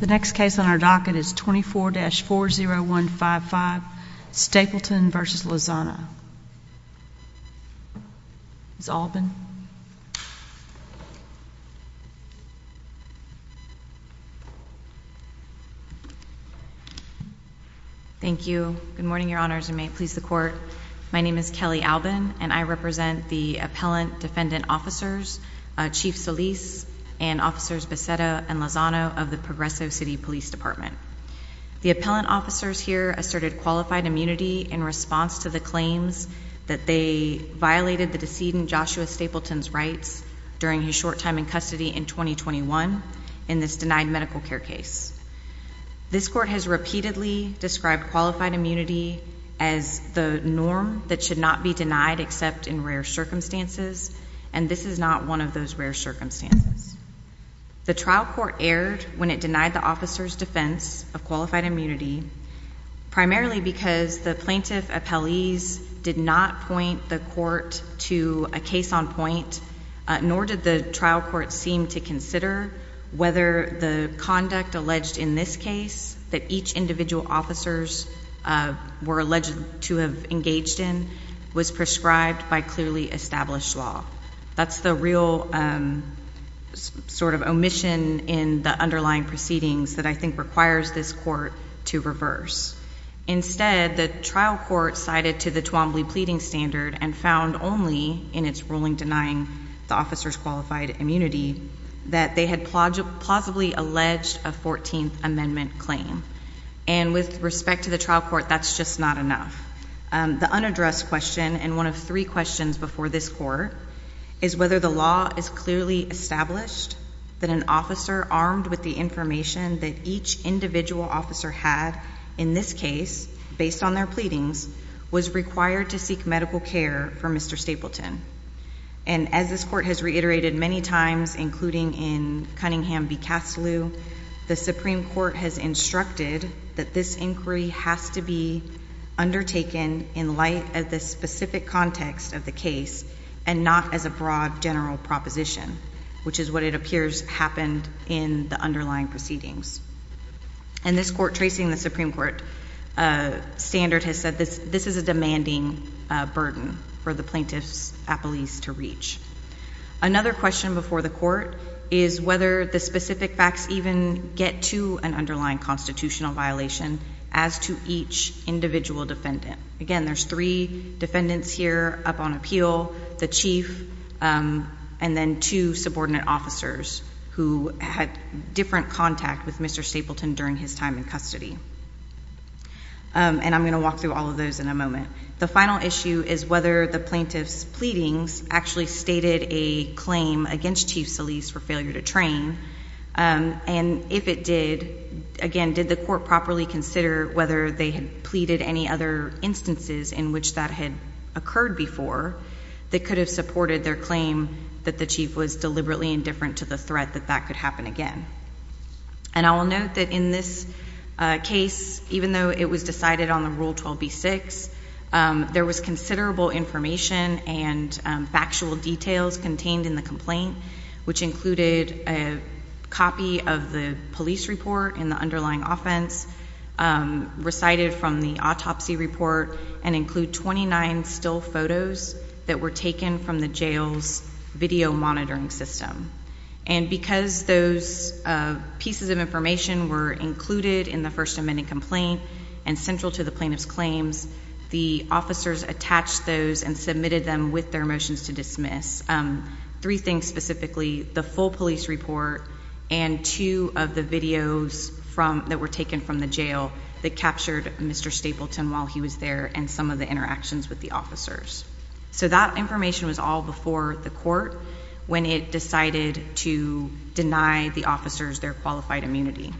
The next case on our docket is 24-40155, Stapleton v. Lozano. Ms. Alban? Thank you. Good morning, Your Honors, and may it please the Court. My name is Kelly Alban, and I represent the Appellant Defendant Officers Chief Solis and Officers Becetta and Lozano of the Progressive City Police Department. The appellant officers here asserted qualified immunity in response to the claims that they violated the decedent Joshua Stapleton's rights during his short time in custody in 2021 in this denied medical care case. This Court has repeatedly described qualified immunity as the norm that should not be denied except in rare circumstances, and this is not one of those rare circumstances. The trial court erred when it denied the officers' defense of qualified immunity, primarily because the plaintiff appellees did not point the court to a case on point, nor did the trial court seem to consider whether the conduct alleged in this case, that each individual officers were alleged to have engaged in, was prescribed by clearly established law. That's the real sort of omission in the underlying proceedings that I think requires this court to reverse. Instead, the trial court cited to the Twombly pleading standard and found only in its ruling denying the officers qualified immunity that they had plausibly alleged a 14th Amendment claim. And with respect to the trial court, that's just not enough. The unaddressed question and one of three questions before this court is whether the law is clearly established that an officer armed with the information that each individual officer had in this case, based on their pleadings, was required to seek medical care for Mr. Stapleton. And as this court has reiterated many times, including in Cunningham v. Castlew, the Supreme Court has instructed that this inquiry has to be undertaken in light of the specific context of the case and not as a broad general proposition, which is what it appears happened in the underlying proceedings. And this court tracing the Supreme Court standard has said this is a demanding burden for the plaintiffs at police to reach. Another question before the court is whether the specific facts even get to an underlying constitutional violation as to each individual defendant. Again, there's three defendants here up on appeal, the chief and then two subordinate officers who had different contact with Mr. Stapleton during his time in custody. And I'm going to walk through all of those in a moment. The final issue is whether the plaintiff's pleadings actually stated a claim against Chief Solis for failure to train. And if it did, again, did the court properly consider whether they had pleaded any other instances in which that had occurred before that could have supported their claim that the chief was deliberately indifferent to the threat that that could happen again. And I will note that in this case, even though it was decided on the Rule 12b-6, there was considerable information and factual details contained in the complaint, which included a copy of the police report in the underlying offense, recited from the autopsy report, and include 29 still photos that were taken from the jail's video monitoring system. And because those pieces of information were included in the First Amendment complaint and central to the plaintiff's claims, the officers attached those and submitted them with their motions to dismiss. Three things specifically, the full police report and two of the videos that were taken from the jail that captured Mr. Stapleton while he was there and some of the interactions with the officers. So that information was all before the court when it decided to deny the officers their qualified immunity.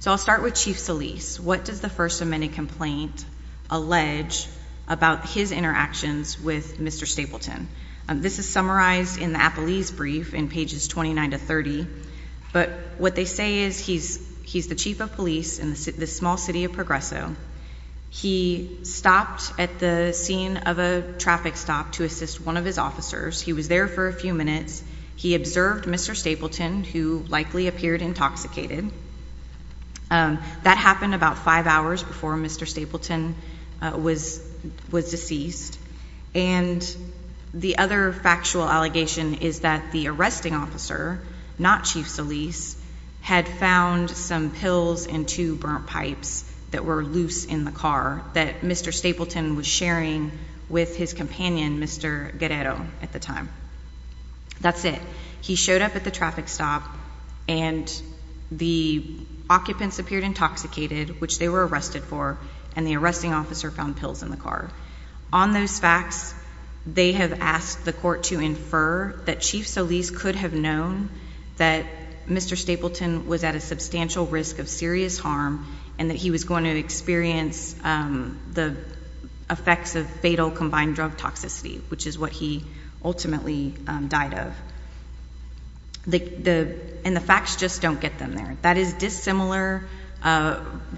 So I'll start with Chief Solis. What does the First Amendment complaint allege about his interactions with Mr. Stapleton? This is summarized in the Appelese brief in pages 29 to 30. But what they say is he's the chief of police in this small city of Progresso. He stopped at the scene of a traffic stop to assist one of his officers. He was there for a few minutes. He observed Mr. Stapleton, who likely appeared intoxicated. That happened about five hours before Mr. Stapleton was deceased. And the other factual allegation is that the arresting officer, not Chief Solis, had found some pills in two burnt pipes that were loose in the car that Mr. Stapleton was sharing with his companion, Mr. Guerrero, at the time. That's it. He showed up at the traffic stop, and the occupants appeared intoxicated, which they were arrested for, and the arresting officer found pills in the car. On those facts, they have asked the court to infer that Chief Solis could have known that Mr. Stapleton was at a substantial risk of serious harm and that he was going to experience the effects of fatal combined drug toxicity, which is what he ultimately died of. And the facts just don't get them there. That is dissimilar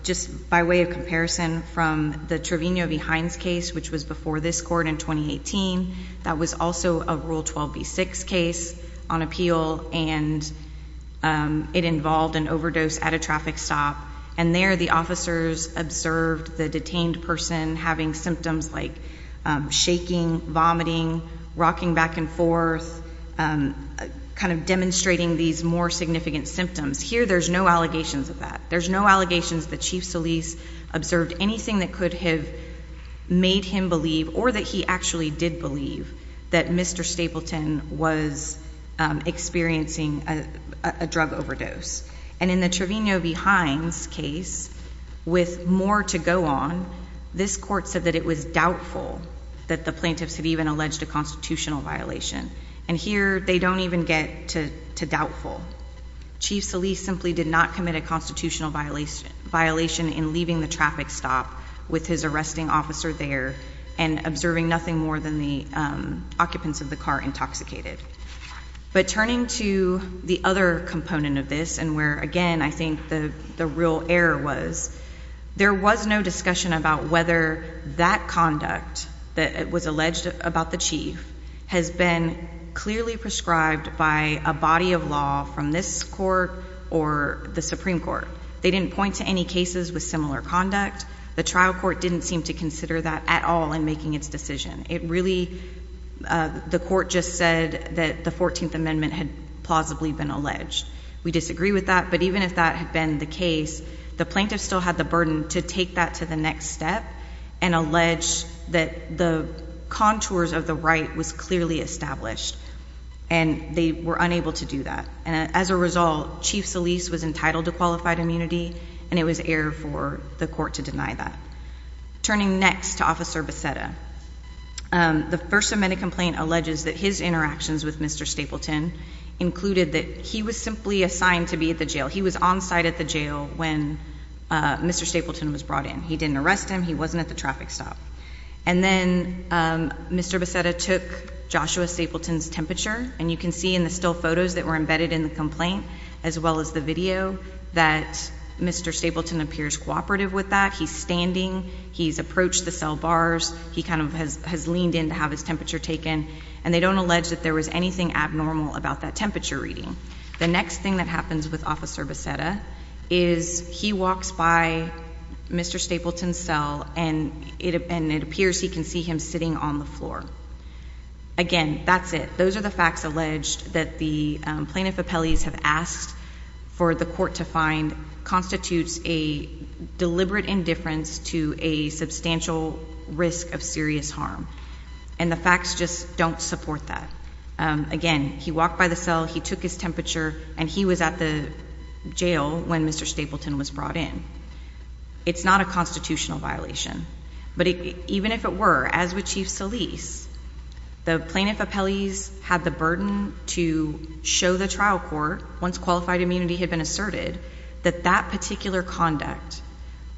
just by way of comparison from the Trevino v. Hines case, which was before this court in 2018. That was also a Rule 12b-6 case on appeal, and it involved an overdose at a traffic stop. And there the officers observed the detained person having symptoms like shaking, vomiting, rocking back and forth, kind of demonstrating these more significant symptoms. Here there's no allegations of that. There's no allegations that Chief Solis observed anything that could have made him believe, or that he actually did believe, that Mr. Stapleton was experiencing a drug overdose. And in the Trevino v. Hines case, with more to go on, this court said that it was doubtful that the plaintiffs had even alleged a constitutional violation. And here they don't even get to doubtful. Chief Solis simply did not commit a constitutional violation in leaving the traffic stop with his arresting officer there and observing nothing more than the occupants of the car intoxicated. But turning to the other component of this, and where, again, I think the real error was, there was no discussion about whether that conduct that was alleged about the chief has been clearly prescribed by a body of law from this court or the Supreme Court. They didn't point to any cases with similar conduct. The trial court didn't seem to consider that at all in making its decision. It really, the court just said that the 14th Amendment had plausibly been alleged. We disagree with that, but even if that had been the case, the plaintiffs still had the burden to take that to the next step and allege that the contours of the right was clearly established, and they were unable to do that. And as a result, Chief Solis was entitled to qualified immunity, and it was error for the court to deny that. Turning next to Officer Beceda, the First Amendment complaint alleges that his interactions with Mr. Stapleton included that he was simply assigned to be at the jail. He was on site at the jail when Mr. Stapleton was brought in. He didn't arrest him. He wasn't at the traffic stop. And then Mr. Beceda took Joshua Stapleton's temperature, and you can see in the still photos that were embedded in the complaint as well as the video that Mr. Stapleton appears cooperative with that. He's standing. He's approached the cell bars. He kind of has leaned in to have his temperature taken, and they don't allege that there was anything abnormal about that temperature reading. The next thing that happens with Officer Beceda is he walks by Mr. Stapleton's cell, and it appears he can see him sitting on the floor. Again, that's it. Those are the facts alleged that the plaintiff appellees have asked for the court to find constitutes a deliberate indifference to a substantial risk of serious harm, and the facts just don't support that. Again, he walked by the cell. He took his temperature, and he was at the jail when Mr. Stapleton was brought in. It's not a constitutional violation. But even if it were, as with Chief Solis, the plaintiff appellees had the burden to show the trial court, once qualified immunity had been asserted, that that particular conduct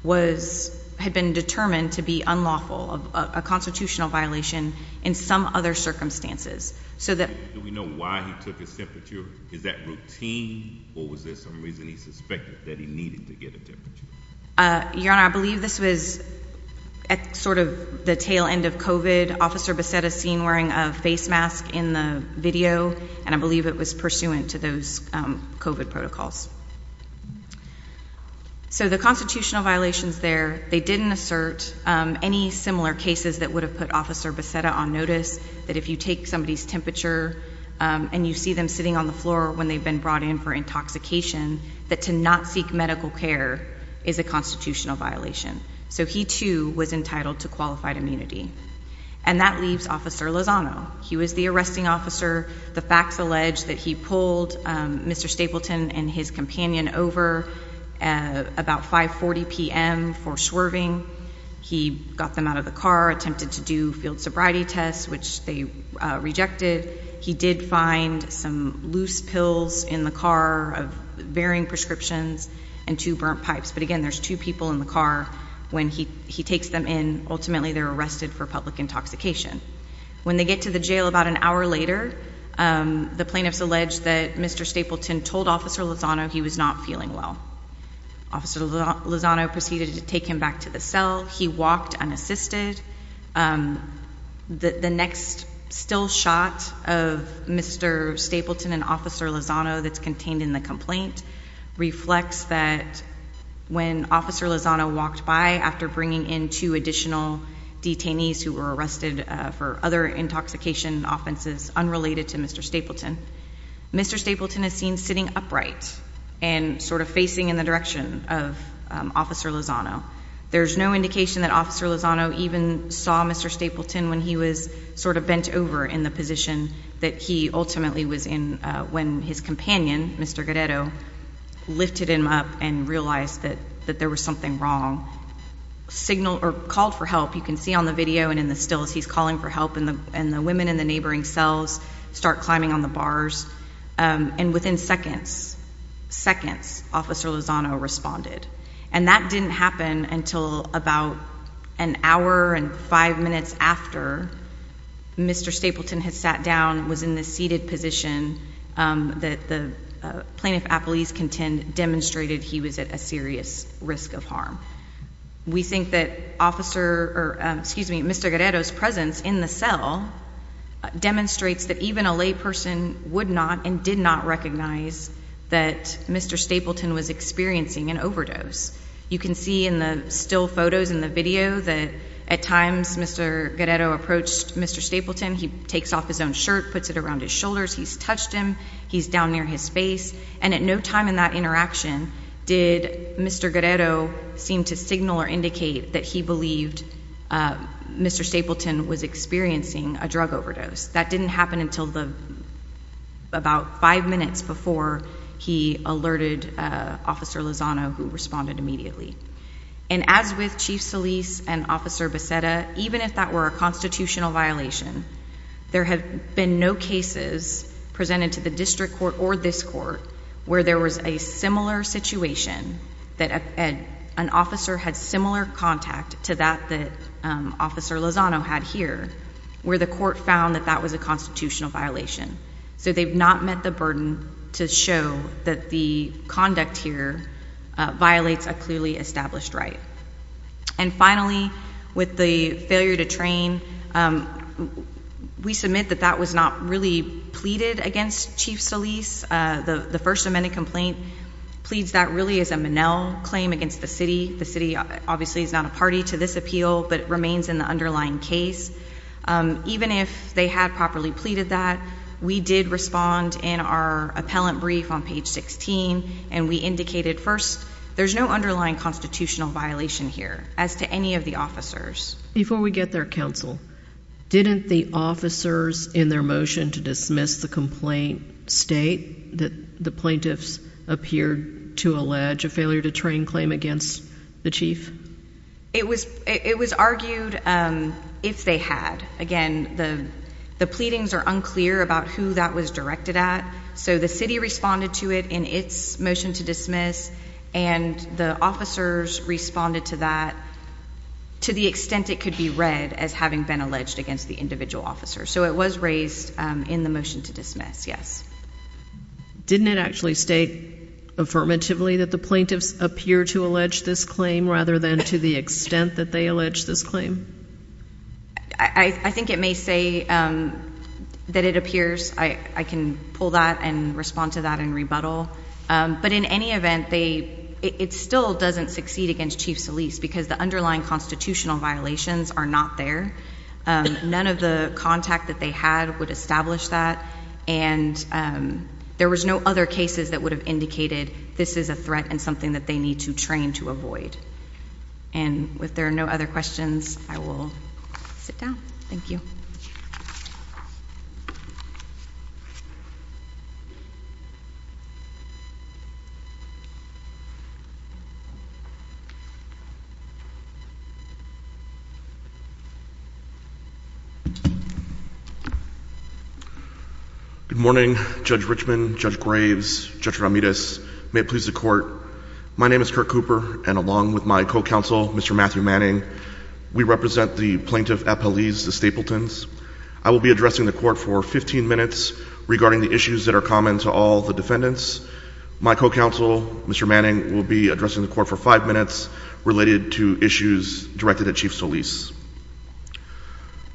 had been determined to be unlawful, a constitutional violation in some other circumstances. Do we know why he took his temperature? Is that routine, or was there some reason he suspected that he needed to get a temperature? Your Honor, I believe this was at sort of the tail end of COVID. Officer Beceda is seen wearing a face mask in the video, and I believe it was pursuant to those COVID protocols. So the constitutional violations there, they didn't assert any similar cases that would have put Officer Beceda on notice, that if you take somebody's temperature and you see them sitting on the floor when they've been brought in for intoxication, that to not seek medical care is a constitutional violation. So he, too, was entitled to qualified immunity. And that leaves Officer Lozano. He was the arresting officer. The facts allege that he pulled Mr. Stapleton and his companion over about 5.40 p.m. for swerving. He got them out of the car, attempted to do field sobriety tests, which they rejected. He did find some loose pills in the car, varying prescriptions, and two burnt pipes. But again, there's two people in the car. When he takes them in, ultimately they're arrested for public intoxication. When they get to the jail about an hour later, the plaintiffs allege that Mr. Stapleton told Officer Lozano he was not feeling well. Officer Lozano proceeded to take him back to the cell. He walked unassisted. The next still shot of Mr. Stapleton and Officer Lozano that's contained in the complaint reflects that when Officer Lozano walked by after bringing in two additional detainees who were arrested for other intoxication offenses unrelated to Mr. Stapleton, Mr. Stapleton is seen sitting upright and sort of facing in the direction of Officer Lozano. There's no indication that Officer Lozano even saw Mr. Stapleton when he was sort of bent over in the position that he ultimately was in when his companion, Mr. Guerrero, lifted him up and realized that there was something wrong, called for help. You can see on the video and in the stills he's calling for help and the women in the neighboring cells start climbing on the bars. And within seconds, seconds, Officer Lozano responded. And that didn't happen until about an hour and five minutes after Mr. Stapleton had sat down, was in the seated position that the plaintiff appellees demonstrated he was at a serious risk of harm. We think that Mr. Guerrero's presence in the cell demonstrates that even a layperson would not and did not recognize that Mr. Stapleton was experiencing an overdose. You can see in the still photos and the video that at times Mr. Guerrero approached Mr. Stapleton. He takes off his own shirt, puts it around his shoulders. He's touched him. He's down near his face. And at no time in that interaction did Mr. Guerrero seem to signal or indicate that he believed Mr. Stapleton was experiencing a drug overdose. That didn't happen until about five minutes before he alerted Officer Lozano, who responded immediately. And as with Chief Solis and Officer Becerra, even if that were a constitutional violation, there have been no cases presented to the district court or this court where there was a similar situation, that an officer had similar contact to that that Officer Lozano had here, where the court found that that was a constitutional violation. So they've not met the burden to show that the conduct here violates a clearly established right. And finally, with the failure to train, we submit that that was not really pleaded against Chief Solis. The First Amendment complaint pleads that really as a Monell claim against the city. The city obviously is not a party to this appeal, but it remains in the underlying case. Even if they had properly pleaded that, we did respond in our appellant brief on page 16, and we indicated, first, there's no underlying constitutional violation here as to any of the officers. Before we get there, Counsel, didn't the officers in their motion to dismiss the complaint state that the plaintiffs appeared to allege a failure to train claim against the chief? It was argued if they had. Again, the pleadings are unclear about who that was directed at. So the city responded to it in its motion to dismiss, and the officers responded to that to the extent it could be read as having been alleged against the individual officer. So it was raised in the motion to dismiss, yes. Didn't it actually state affirmatively that the plaintiffs appear to allege this claim rather than to the extent that they allege this claim? I think it may say that it appears. I can pull that and respond to that in rebuttal. But in any event, it still doesn't succeed against Chief Solis because the underlying constitutional violations are not there. None of the contact that they had would establish that, and there was no other cases that would have indicated this is a threat and something that they need to train to avoid. And if there are no other questions, I will sit down. Thank you. Good morning, Judge Richman, Judge Graves, Judge Ramirez. May it please the Court, my name is Kirk Cooper, and along with my co-counsel, Mr. Matthew Manning, we represent the plaintiff at police, the Stapletons. I will be addressing the Court for 15 minutes regarding the issues that are common to all the defendants. My co-counsel, Mr. Manning, will be addressing the Court for five minutes related to issues directed at Chief Solis.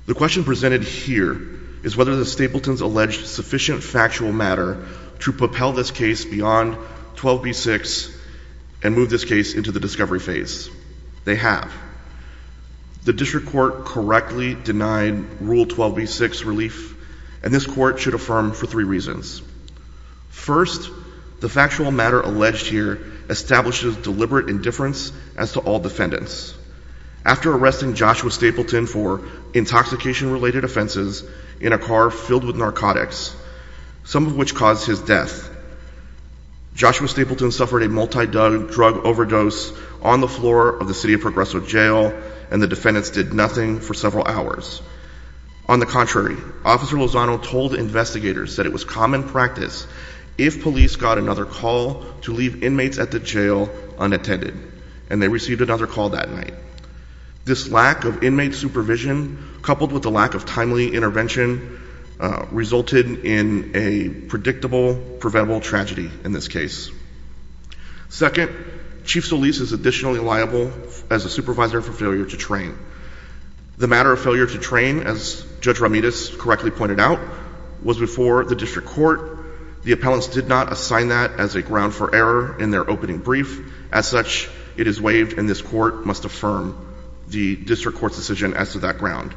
The question presented here is whether the Stapletons alleged sufficient factual matter to propel this case beyond 12b-6 and move this case into the discovery phase. They have. The District Court correctly denied Rule 12b-6 relief, and this Court should affirm for three reasons. First, the factual matter alleged here establishes deliberate indifference as to all defendants. After arresting Joshua Stapleton for intoxication-related offenses in a car filled with narcotics, some of which caused his death, Joshua Stapleton suffered a multi-drug overdose on the floor of the city of Progreso Jail, and the defendants did nothing for several hours. On the contrary, Officer Lozano told investigators that it was common practice if police got another call to leave inmates at the jail unattended, and they received another call that night. This lack of inmate supervision, coupled with the lack of timely intervention, resulted in a predictable, preventable tragedy in this case. Second, Chief Solis is additionally liable as a supervisor for failure to train. The matter of failure to train, as Judge Ramirez correctly pointed out, was before the District Court. The appellants did not assign that as a ground for error in their opening brief. As such, it is waived, and this Court must affirm the District Court's decision as to that ground.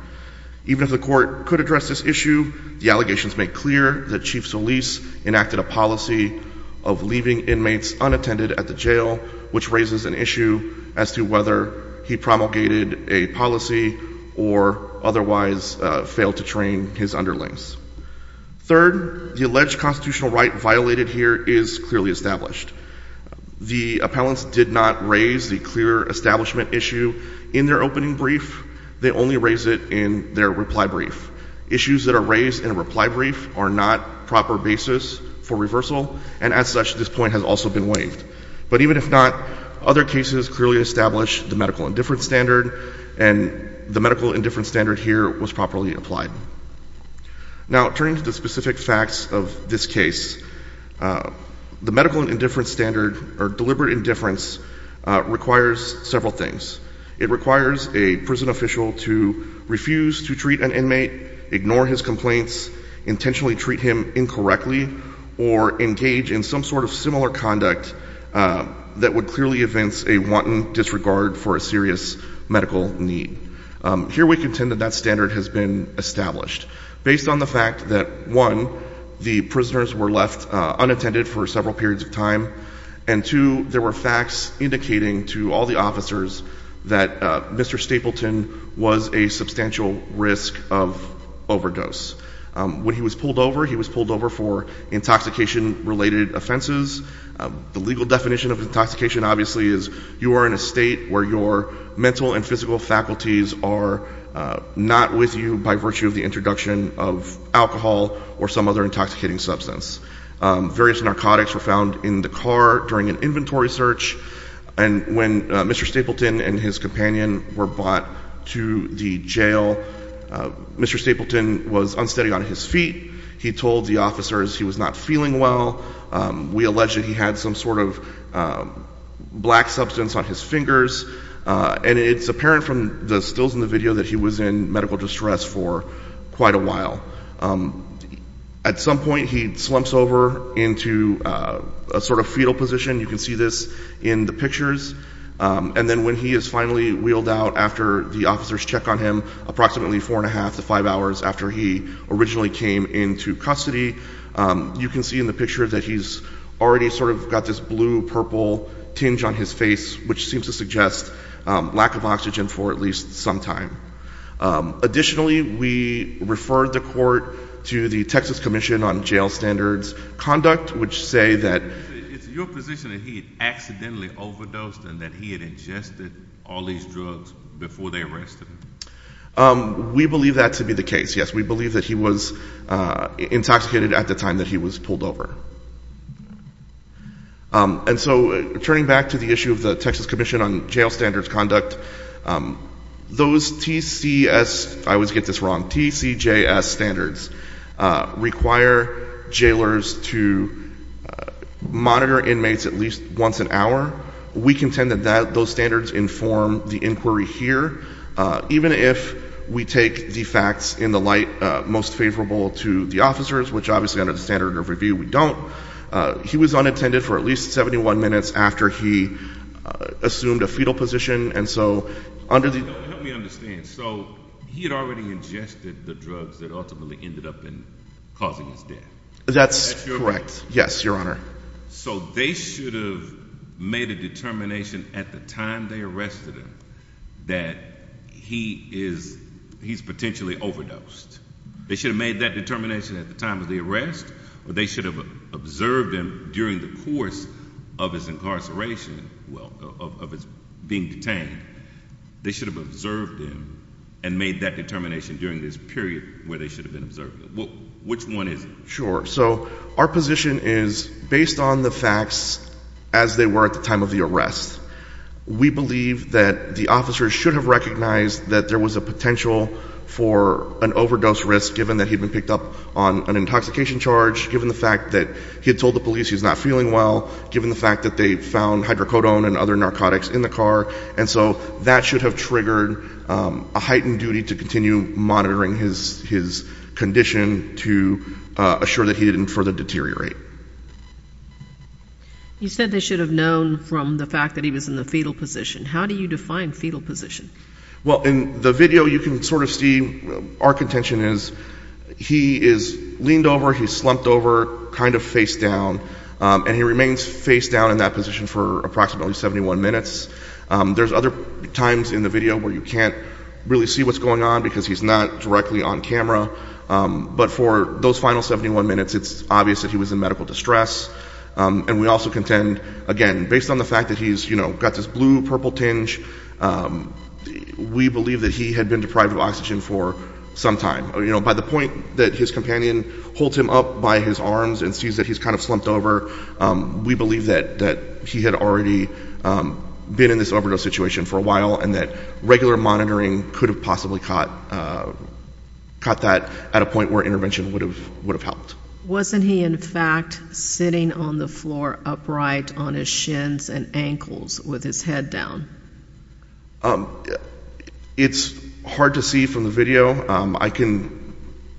Even if the Court could address this issue, the allegations make clear that Chief Solis enacted a policy of leaving inmates unattended at the jail, which raises an issue as to whether he promulgated a policy or otherwise failed to train his underlings. Third, the alleged constitutional right violated here is clearly established. The appellants did not raise the clear establishment issue in their opening brief. They only raised it in their reply brief. Issues that are raised in a reply brief are not proper basis for reversal, and as such, this point has also been waived. But even if not, other cases clearly establish the medical indifference standard, and the medical indifference standard here was properly applied. Now, turning to the specific facts of this case, the medical indifference standard, or deliberate indifference, requires several things. It requires a prison official to refuse to treat an inmate, ignore his complaints, intentionally treat him incorrectly, or engage in some sort of similar conduct that would clearly evince a wanton disregard for a serious medical need. Here we contend that that standard has been established based on the fact that, one, the prisoners were left unattended for several periods of time, and two, there were facts indicating to all the officers that Mr. Stapleton was a substantial risk of overdose. When he was pulled over, he was pulled over for intoxication-related offenses. The legal definition of intoxication, obviously, is you are in a state where your mental and physical faculties are not with you by virtue of the introduction of alcohol or some other intoxicating substance. Various narcotics were found in the car during an inventory search, and when Mr. Stapleton and his companion were brought to the jail, Mr. Stapleton was unsteady on his feet. He told the officers he was not feeling well. We allege that he had some sort of black substance on his fingers, and it's apparent from the stills in the video that he was in medical distress for quite a while. At some point, he slumps over into a sort of fetal position. You can see this in the pictures. And then when he is finally wheeled out after the officers check on him, approximately four and a half to five hours after he originally came into custody, you can see in the picture that he's already sort of got this blue-purple tinge on his face, which seems to suggest lack of oxygen for at least some time. Additionally, we referred the court to the Texas Commission on Jail Standards Conduct, which say that It's your position that he had accidentally overdosed and that he had ingested all these drugs before they arrested him. We believe that to be the case, yes. We believe that he was intoxicated at the time that he was pulled over. And so turning back to the issue of the Texas Commission on Jail Standards Conduct, those TCJS standards require jailers to monitor inmates at least once an hour. We contend that those standards inform the inquiry here. Even if we take the facts in the light most favorable to the officers, which obviously under the standard of review we don't, he was unattended for at least 71 minutes after he assumed a fetal position. And so under the— Help me understand. So he had already ingested the drugs that ultimately ended up causing his death? That's correct. That's your— So they should have made a determination at the time they arrested him that he's potentially overdosed. They should have made that determination at the time of the arrest, or they should have observed him during the course of his incarceration, well, of his being detained. They should have observed him and made that determination during this period where they should have been observing him. Which one is it? Sure. So our position is based on the facts as they were at the time of the arrest. We believe that the officers should have recognized that there was a potential for an overdose risk given that he'd been picked up on an intoxication charge, given the fact that he had told the police he was not feeling well, given the fact that they found hydrocodone and other narcotics in the car. And so that should have triggered a heightened duty to continue monitoring his condition to assure that he didn't further deteriorate. You said they should have known from the fact that he was in the fetal position. How do you define fetal position? Well, in the video you can sort of see our contention is he is leaned over, he's slumped over, kind of face down, and he remains face down in that position for approximately 71 minutes. There's other times in the video where you can't really see what's going on because he's not directly on camera. But for those final 71 minutes, it's obvious that he was in medical distress. And we also contend, again, based on the fact that he's got this blue-purple tinge, we believe that he had been deprived of oxygen for some time. By the point that his companion holds him up by his arms and sees that he's kind of slumped over, we believe that he had already been in this overdose situation for a while and that regular monitoring could have possibly caught that at a point where intervention would have helped. Wasn't he, in fact, sitting on the floor upright on his shins and ankles with his head down? It's hard to see from the video. I can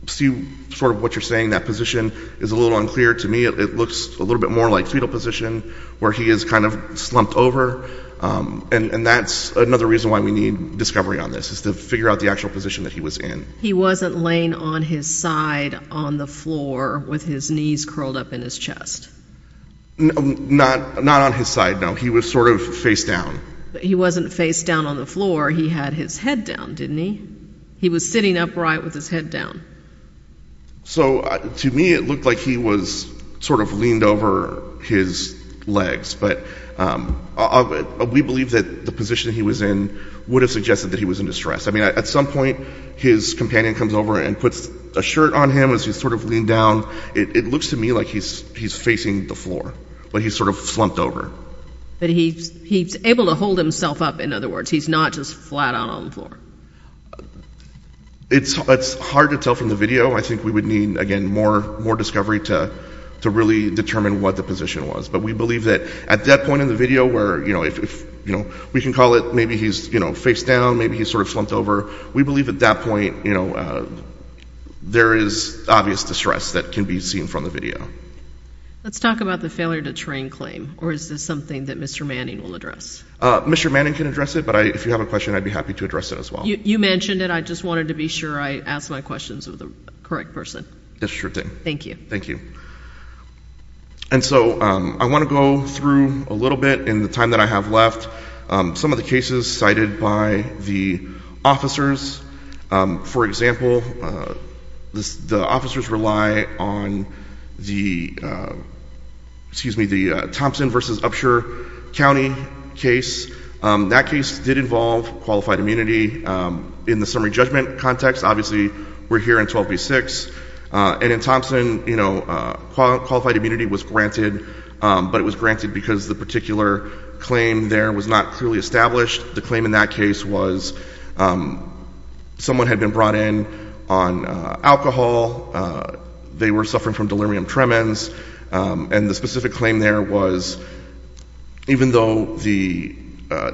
see sort of what you're saying. That position is a little unclear to me. It looks a little bit more like fetal position where he is kind of slumped over. And that's another reason why we need discovery on this is to figure out the actual position that he was in. He wasn't laying on his side on the floor with his knees curled up in his chest? Not on his side, no. He was sort of face down. He wasn't face down on the floor. He had his head down, didn't he? He was sitting upright with his head down. So to me, it looked like he was sort of leaned over his legs. But we believe that the position he was in would have suggested that he was in distress. I mean, at some point, his companion comes over and puts a shirt on him as he's sort of leaned down. It looks to me like he's facing the floor, but he's sort of slumped over. But he's able to hold himself up, in other words. He's not just flat out on the floor. It's hard to tell from the video. I think we would need, again, more discovery to really determine what the position was. But we believe that at that point in the video where we can call it maybe he's face down, maybe he's sort of slumped over, we believe at that point there is obvious distress that can be seen from the video. Let's talk about the failure to train claim, or is this something that Mr. Manning will address? Mr. Manning can address it, but if you have a question, I'd be happy to address it as well. You mentioned it. I just wanted to be sure I asked my questions of the correct person. Yes, sure thing. Thank you. Thank you. And so I want to go through a little bit in the time that I have left some of the cases cited by the officers. For example, the officers rely on the Thompson v. Upshur County case. That case did involve qualified immunity in the summary judgment context. Obviously, we're here in 12 v. 6. And in Thompson, qualified immunity was granted, but it was granted because the particular claim there was not clearly established. The claim in that case was someone had been brought in on alcohol. They were suffering from delirium tremens. And the specific claim there was even though the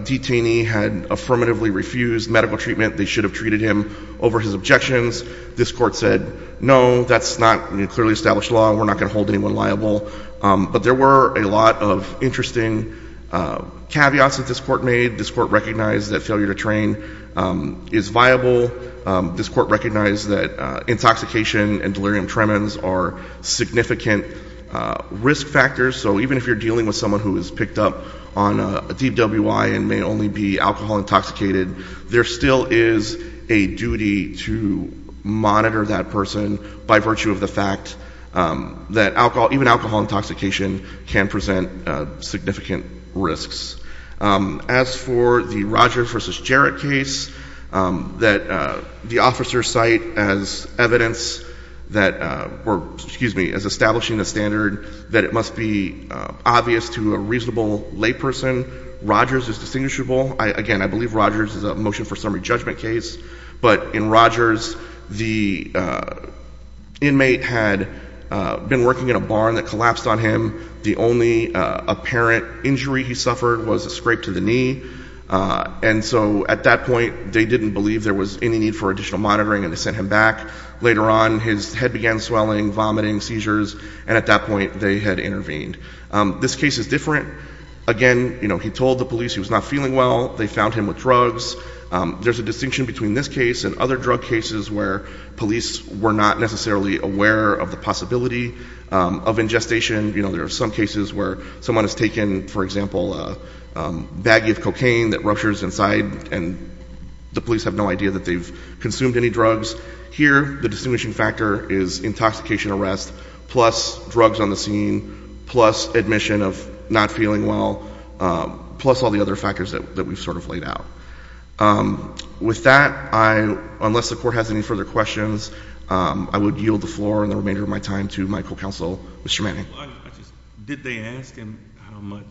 detainee had affirmatively refused medical treatment, they should have treated him over his objections, this court said, no, that's not clearly established law. We're not going to hold anyone liable. But there were a lot of interesting caveats that this court made. This court recognized that failure to train is viable. This court recognized that intoxication and delirium tremens are significant risk factors. So even if you're dealing with someone who is picked up on a DWI and may only be alcohol intoxicated, there still is a duty to monitor that person by virtue of the fact that even alcohol intoxication can present significant risks. As for the Rogers v. Jarrett case that the officers cite as evidence that were, excuse me, as establishing the standard that it must be obvious to a reasonable layperson, Rogers is distinguishable. Again, I believe Rogers is a motion for summary judgment case. But in Rogers, the inmate had been working in a barn that collapsed on him. The only apparent injury he suffered was a scrape to the knee. And so at that point, they didn't believe there was any need for additional monitoring, and they sent him back. Later on, his head began swelling, vomiting, seizures, and at that point they had intervened. This case is different. Again, he told the police he was not feeling well. They found him with drugs. There's a distinction between this case and other drug cases where police were not necessarily aware of the possibility of ingestation. You know, there are some cases where someone has taken, for example, a baggie of cocaine that ruptures inside, and the police have no idea that they've consumed any drugs. Here, the distinguishing factor is intoxication arrest, plus drugs on the scene, plus admission of not feeling well, plus all the other factors that we've sort of laid out. With that, unless the court has any further questions, I would yield the floor and the remainder of my time to my co-counsel, Mr. Manning. Did they ask him how much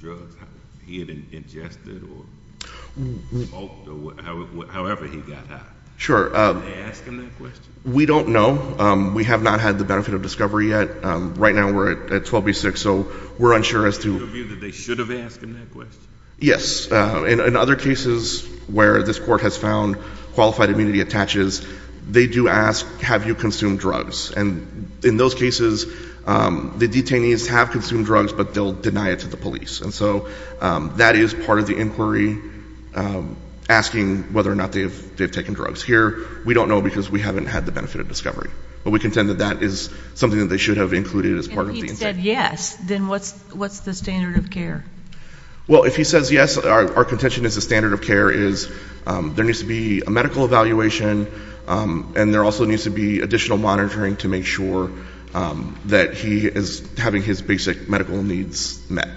drugs he had ingested or smoked or however he got high? Sure. Did they ask him that question? We don't know. We have not had the benefit of discovery yet. Right now we're at 12B6, so we're unsure as to- Is it your view that they should have asked him that question? Yes. In other cases where this court has found qualified immunity attaches, they do ask, have you consumed drugs? And in those cases, the detainees have consumed drugs, but they'll deny it to the police. And so that is part of the inquiry, asking whether or not they've taken drugs. Here, we don't know because we haven't had the benefit of discovery. But we contend that that is something that they should have included as part of the inquiry. And if he said yes, then what's the standard of care? Well, if he says yes, our contention is the standard of care is there needs to be a medical evaluation, and there also needs to be additional monitoring to make sure that he is having his basic medical needs met.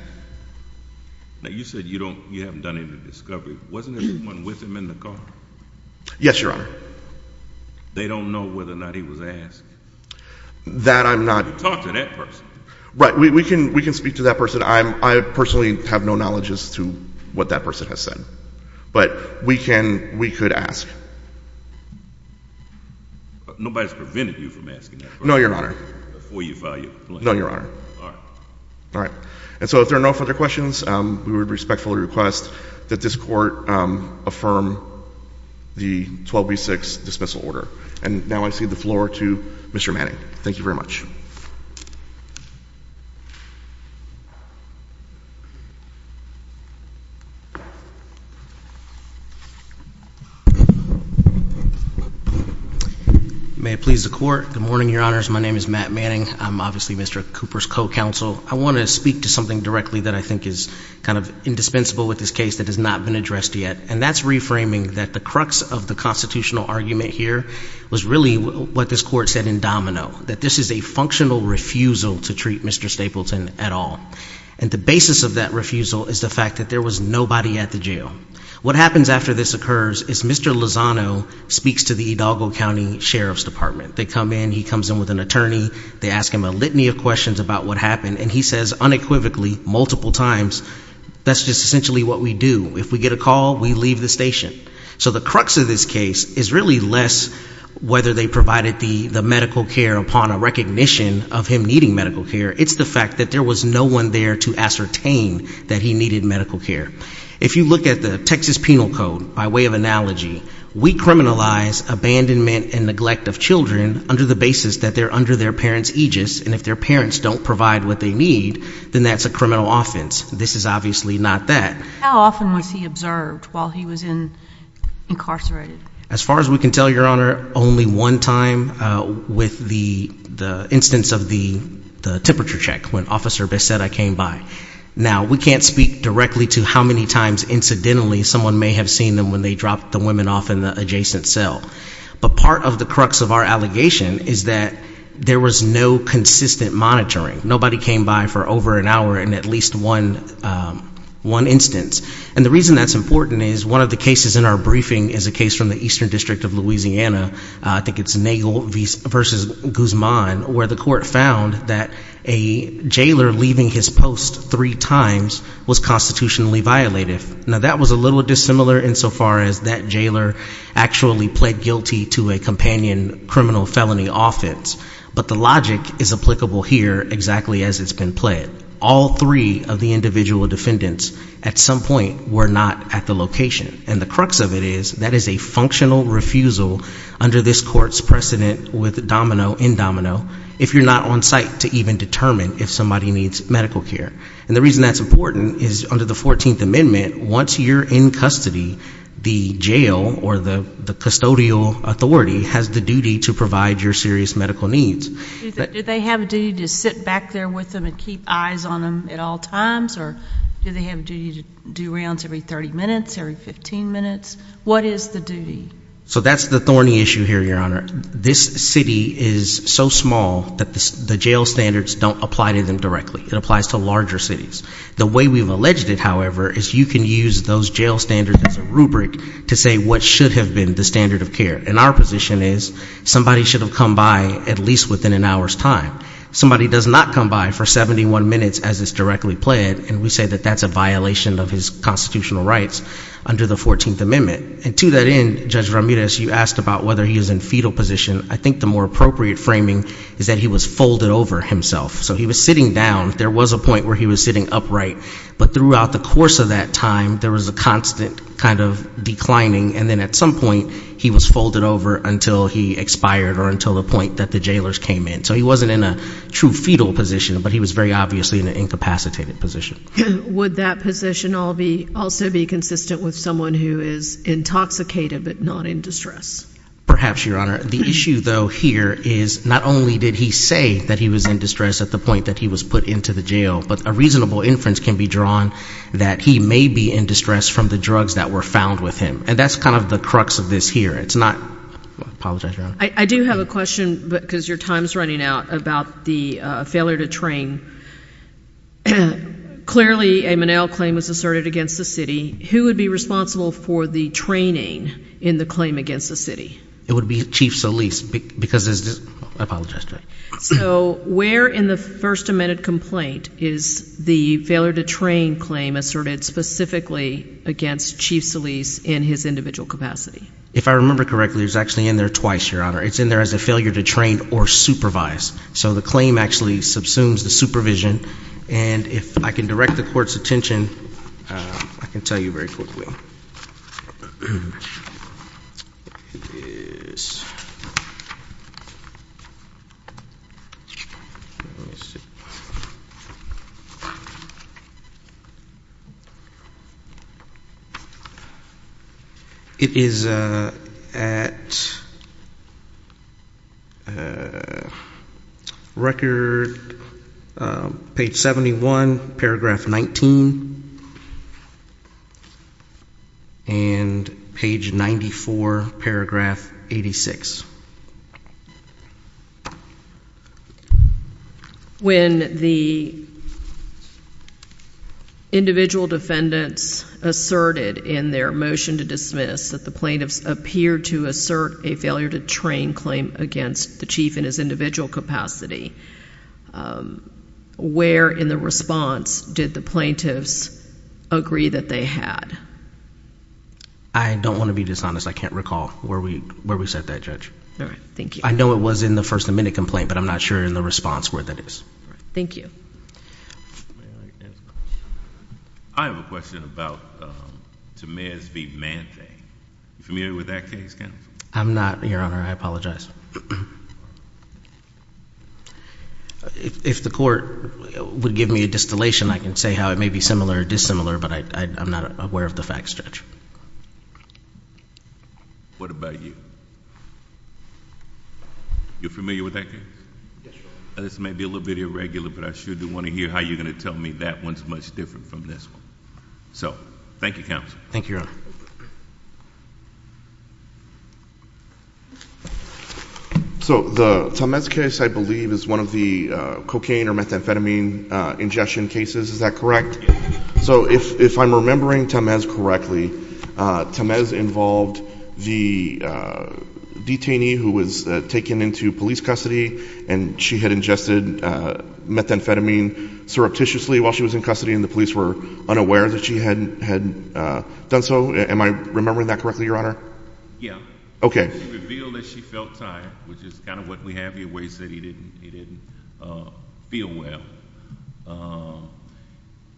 Now, you said you haven't done any discovery. Wasn't there someone with him in the car? Yes, Your Honor. They don't know whether or not he was asked? That I'm not- Talk to that person. Right. We can speak to that person. I personally have no knowledge as to what that person has said. But we can, we could ask. Nobody's prevented you from asking that question. No, Your Honor. Before you file your complaint. No, Your Honor. All right. All right. And so if there are no further questions, we would respectfully request that this court affirm the 12B6 dismissal order. And now I cede the floor to Mr. Manning. Thank you very much. May it please the Court. Good morning, Your Honors. My name is Matt Manning. I'm obviously Mr. Cooper's co-counsel. I want to speak to something directly that I think is kind of indispensable with this case that has not been addressed yet, and that's reframing that the crux of the constitutional argument here was really what this court said in domino, that this is a functional refusal to treat Mr. Stapleton at all. And the basis of that refusal is the fact that there was nobody at the jail. What happens after this occurs is Mr. Lozano speaks to the Hidalgo County Sheriff's Department. They come in. He comes in with an attorney. They ask him a litany of questions about what happened. And he says unequivocally multiple times, that's just essentially what we do. If we get a call, we leave the station. So the crux of this case is really less whether they provided the medical care upon a recognition of him needing medical care. It's the fact that there was no one there to ascertain that he needed medical care. If you look at the Texas Penal Code, by way of analogy, we criminalize abandonment and neglect of children under the basis that they're under their parents' aegis, and if their parents don't provide what they need, then that's a criminal offense. This is obviously not that. How often was he observed while he was incarcerated? As far as we can tell, Your Honor, only one time with the instance of the temperature check when Officer Becerra came by. Now, we can't speak directly to how many times incidentally someone may have seen them when they dropped the women off in the adjacent cell. But part of the crux of our allegation is that there was no consistent monitoring. Nobody came by for over an hour in at least one instance. And the reason that's important is one of the cases in our briefing is a case from the Eastern District of Louisiana, I think it's Nagel v. Guzman, where the court found that a jailer leaving his post three times was constitutionally violative. Now, that was a little dissimilar insofar as that jailer actually pled guilty to a companion criminal felony offense. But the logic is applicable here exactly as it's been pled. All three of the individual defendants at some point were not at the location. And the crux of it is that is a functional refusal under this court's precedent with Domino, in Domino, if you're not on site to even determine if somebody needs medical care. And the reason that's important is under the 14th Amendment, once you're in custody, the jail or the custodial authority has the duty to provide your serious medical needs. Do they have a duty to sit back there with them and keep eyes on them at all times? Or do they have a duty to do rounds every 30 minutes, every 15 minutes? What is the duty? So that's the thorny issue here, Your Honor. This city is so small that the jail standards don't apply to them directly. It applies to larger cities. The way we've alleged it, however, is you can use those jail standards as a rubric to say what should have been the standard of care. And our position is somebody should have come by at least within an hour's time. Somebody does not come by for 71 minutes as is directly pled, and we say that that's a violation of his constitutional rights under the 14th Amendment. And to that end, Judge Ramirez, you asked about whether he was in fetal position. I think the more appropriate framing is that he was folded over himself. So he was sitting down. There was a point where he was sitting upright. But throughout the course of that time, there was a constant kind of declining, and then at some point he was folded over until he expired or until the point that the jailers came in. So he wasn't in a true fetal position, but he was very obviously in an incapacitated position. Would that position also be consistent with someone who is intoxicated but not in distress? Perhaps, Your Honor. The issue, though, here is not only did he say that he was in distress at the point that he was put into the jail, but a reasonable inference can be drawn that he may be in distress from the drugs that were found with him. And that's kind of the crux of this here. It's not ñ I apologize, Your Honor. I do have a question because your time is running out about the failure to train. Clearly a Monell claim was asserted against the city. Who would be responsible for the training in the claim against the city? It would be Chief Solis because ñ I apologize. So where in the First Amendment complaint is the failure to train claim asserted specifically against Chief Solis in his individual capacity? If I remember correctly, it was actually in there twice, Your Honor. It's in there as a failure to train or supervise. So the claim actually subsumes the supervision. And if I can direct the Court's attention, I can tell you very quickly. Thank you. It is at record page 71, paragraph 19. And page 94, paragraph 86. When the individual defendants asserted in their motion to dismiss that the plaintiffs appeared to assert a failure to train claim against the chief in his individual capacity, where in the response did the plaintiffs agree that they had? I don't want to be dishonest. I can't recall where we set that, Judge. All right. Thank you. I know it was in the First Amendment complaint, but I'm not sure in the response where that is. All right. Thank you. I have a question about Tamir's v. Manthe. Are you familiar with that case, counsel? I'm not, Your Honor. I apologize. If the Court would give me a distillation, I can say how it may be similar or dissimilar, but I'm not aware of the fact stretch. What about you? You're familiar with that case? Yes, Your Honor. This may be a little bit irregular, but I sure do want to hear how you're going to tell me that one's much different from this one. So thank you, counsel. Thank you, Your Honor. So the Tamez case, I believe, is one of the cocaine or methamphetamine ingestion cases. Is that correct? Yes. So if I'm remembering Tamez correctly, Tamez involved the detainee who was taken into police custody, and she had ingested methamphetamine surreptitiously while she was in custody and the police were unaware that she had done so? Am I remembering that correctly, Your Honor? Yes. Okay. She revealed that she felt tired, which is kind of what we have here, where he said he didn't feel well.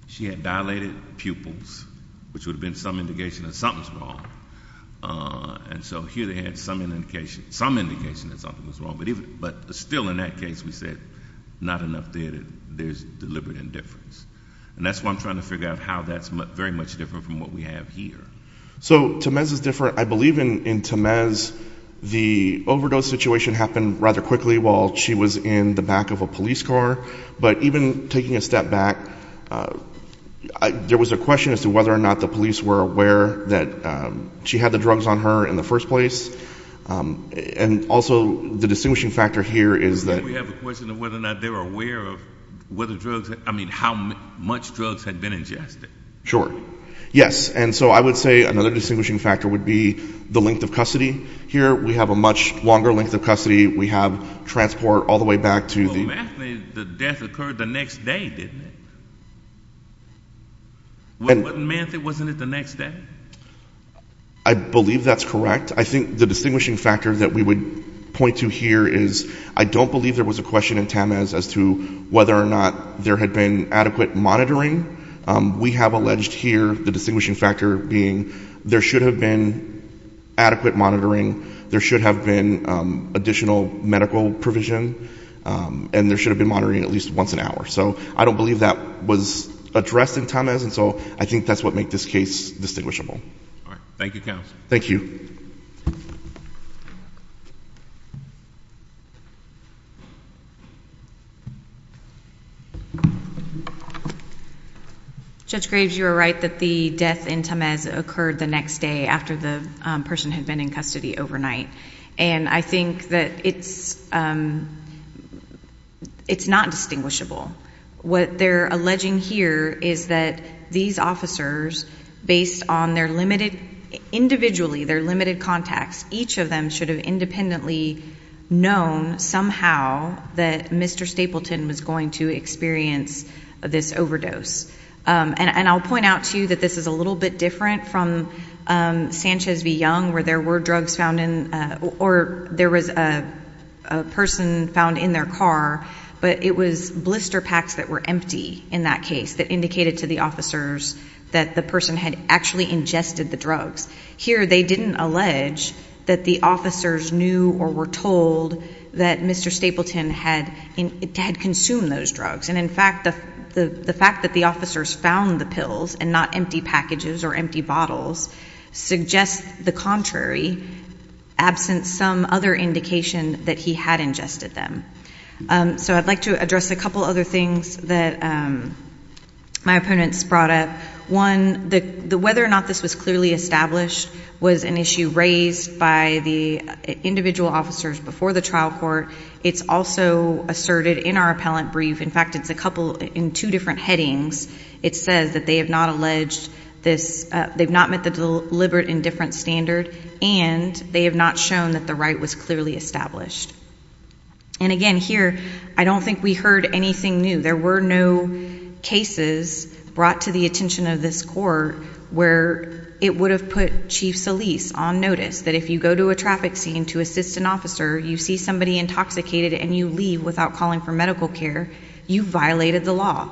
She had dilated pupils, which would have been some indication that something was wrong. And so here they had some indication that something was wrong. But still in that case we said not enough there, there's deliberate indifference. And that's why I'm trying to figure out how that's very much different from what we have here. So Tamez is different. I believe in Tamez the overdose situation happened rather quickly while she was in the back of a police car. But even taking a step back, there was a question as to whether or not the police were aware that she had the drugs on her in the first place. And also the distinguishing factor here is that— We have a question of whether or not they were aware of whether drugs, I mean how much drugs had been ingested. Sure. Yes. And so I would say another distinguishing factor would be the length of custody. Here we have a much longer length of custody. We have transport all the way back to the— But in Manthe the death occurred the next day, didn't it? Wasn't it the next day? I believe that's correct. I think the distinguishing factor that we would point to here is I don't believe there was a question in Tamez as to whether or not there had been adequate monitoring. We have alleged here the distinguishing factor being there should have been adequate monitoring. There should have been additional medical provision. And there should have been monitoring at least once an hour. So I don't believe that was addressed in Tamez. And so I think that's what made this case distinguishable. All right. Thank you, counsel. Thank you. Judge Graves, you are right that the death in Tamez occurred the next day after the person had been in custody overnight. And I think that it's not distinguishable. What they're alleging here is that these officers, based on their limited—individually their limited contacts, each of them should have independently known somehow that Mr. Stapleton was going to experience this overdose. And I'll point out to you that this is a little bit different from Sanchez v. Young where there were drugs found in— or there was a person found in their car, but it was blister packs that were empty in that case that indicated to the officers that the person had actually ingested the drugs. Here they didn't allege that the officers knew or were told that Mr. Stapleton had consumed those drugs. And, in fact, the fact that the officers found the pills and not empty packages or empty bottles suggests the contrary, absent some other indication that he had ingested them. So I'd like to address a couple other things that my opponents brought up. One, whether or not this was clearly established was an issue raised by the individual officers before the trial court. It's also asserted in our appellant brief. In fact, it's a couple in two different headings. It says that they have not alleged this—they've not met the deliberate indifference standard, and they have not shown that the right was clearly established. And, again, here I don't think we heard anything new. There were no cases brought to the attention of this court where it would have put Chief Solis on notice that if you go to a traffic scene to assist an officer, you see somebody intoxicated, and you leave without calling for medical care, you've violated the law.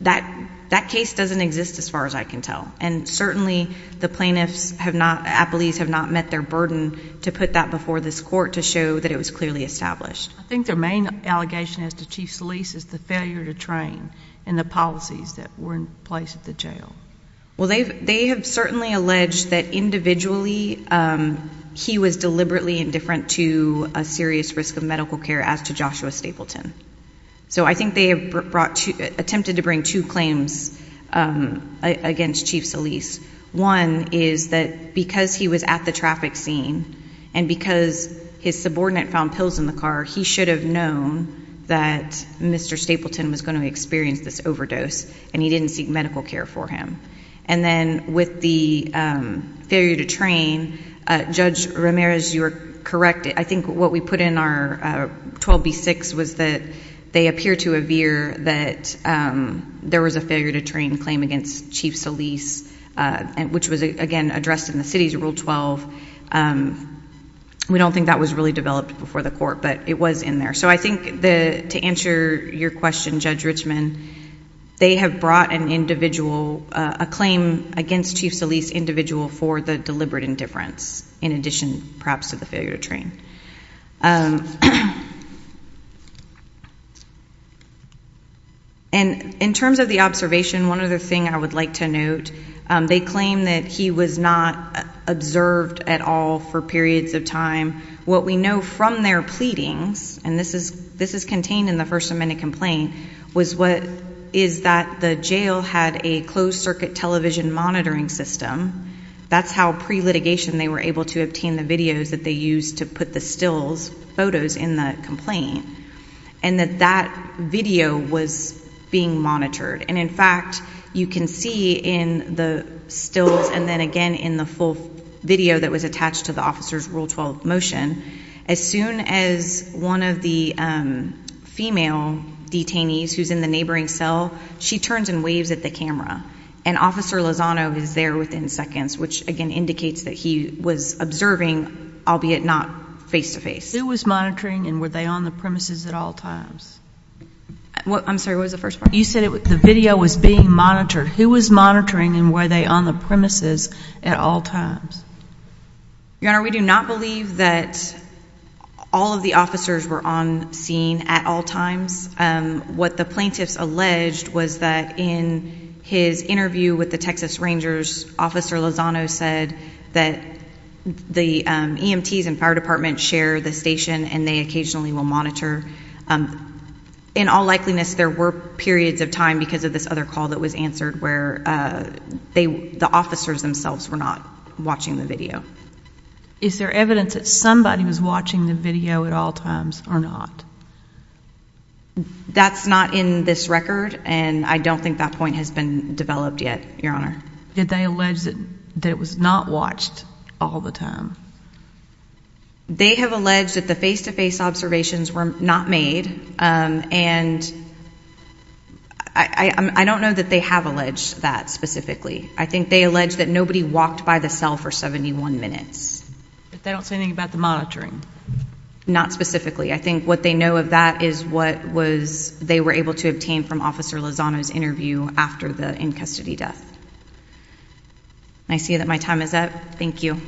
That case doesn't exist as far as I can tell. And certainly the plaintiffs have not—appellees have not met their burden to put that before this court to show that it was clearly established. I think their main allegation as to Chief Solis is the failure to train and the policies that were in place at the jail. Well, they have certainly alleged that individually he was deliberately indifferent to a serious risk of medical care as to Joshua Stapleton. So I think they have attempted to bring two claims against Chief Solis. One is that because he was at the traffic scene and because his subordinate found pills in the car, he should have known that Mr. Stapleton was going to experience this overdose, and he didn't seek medical care for him. And then with the failure to train, Judge Ramirez, you are correct. I think what we put in our 12b-6 was that they appear to avere that there was a failure to train claim against Chief Solis, which was, again, addressed in the city's Rule 12. We don't think that was really developed before the court, but it was in there. So I think to answer your question, Judge Richman, they have brought an individual—a claim against Chief Solis individual for the deliberate indifference, in addition perhaps to the failure to train. And in terms of the observation, one other thing I would like to note, they claim that he was not observed at all for periods of time. What we know from their pleadings, and this is contained in the First Amendment complaint, is that the jail had a closed-circuit television monitoring system. That's how pre-litigation they were able to obtain the videos that they used to put the stills, photos in the complaint, and that that video was being monitored. And in fact, you can see in the stills and then again in the full video that was attached to the officer's Rule 12 motion, as soon as one of the female detainees who's in the neighboring cell, she turns and waves at the camera. And Officer Lozano is there within seconds, which again indicates that he was observing, albeit not face-to-face. Who was monitoring and were they on the premises at all times? I'm sorry, what was the first part? You said the video was being monitored. Who was monitoring and were they on the premises at all times? Your Honor, we do not believe that all of the officers were on scene at all times. What the plaintiffs alleged was that in his interview with the Texas Rangers, Officer Lozano said that the EMTs and fire departments share the station and they occasionally will monitor. In all likeliness, there were periods of time because of this other call that was answered where the officers themselves were not watching the video. Is there evidence that somebody was watching the video at all times or not? That's not in this record and I don't think that point has been developed yet, Your Honor. Did they allege that it was not watched all the time? They have alleged that the face-to-face observations were not made and I don't know that they have alleged that specifically. I think they allege that nobody walked by the cell for 71 minutes. But they don't say anything about the monitoring? Not specifically. I think what they know of that is what they were able to obtain from Officer Lozano's interview after the in-custody death. I see that my time is up. Thank you.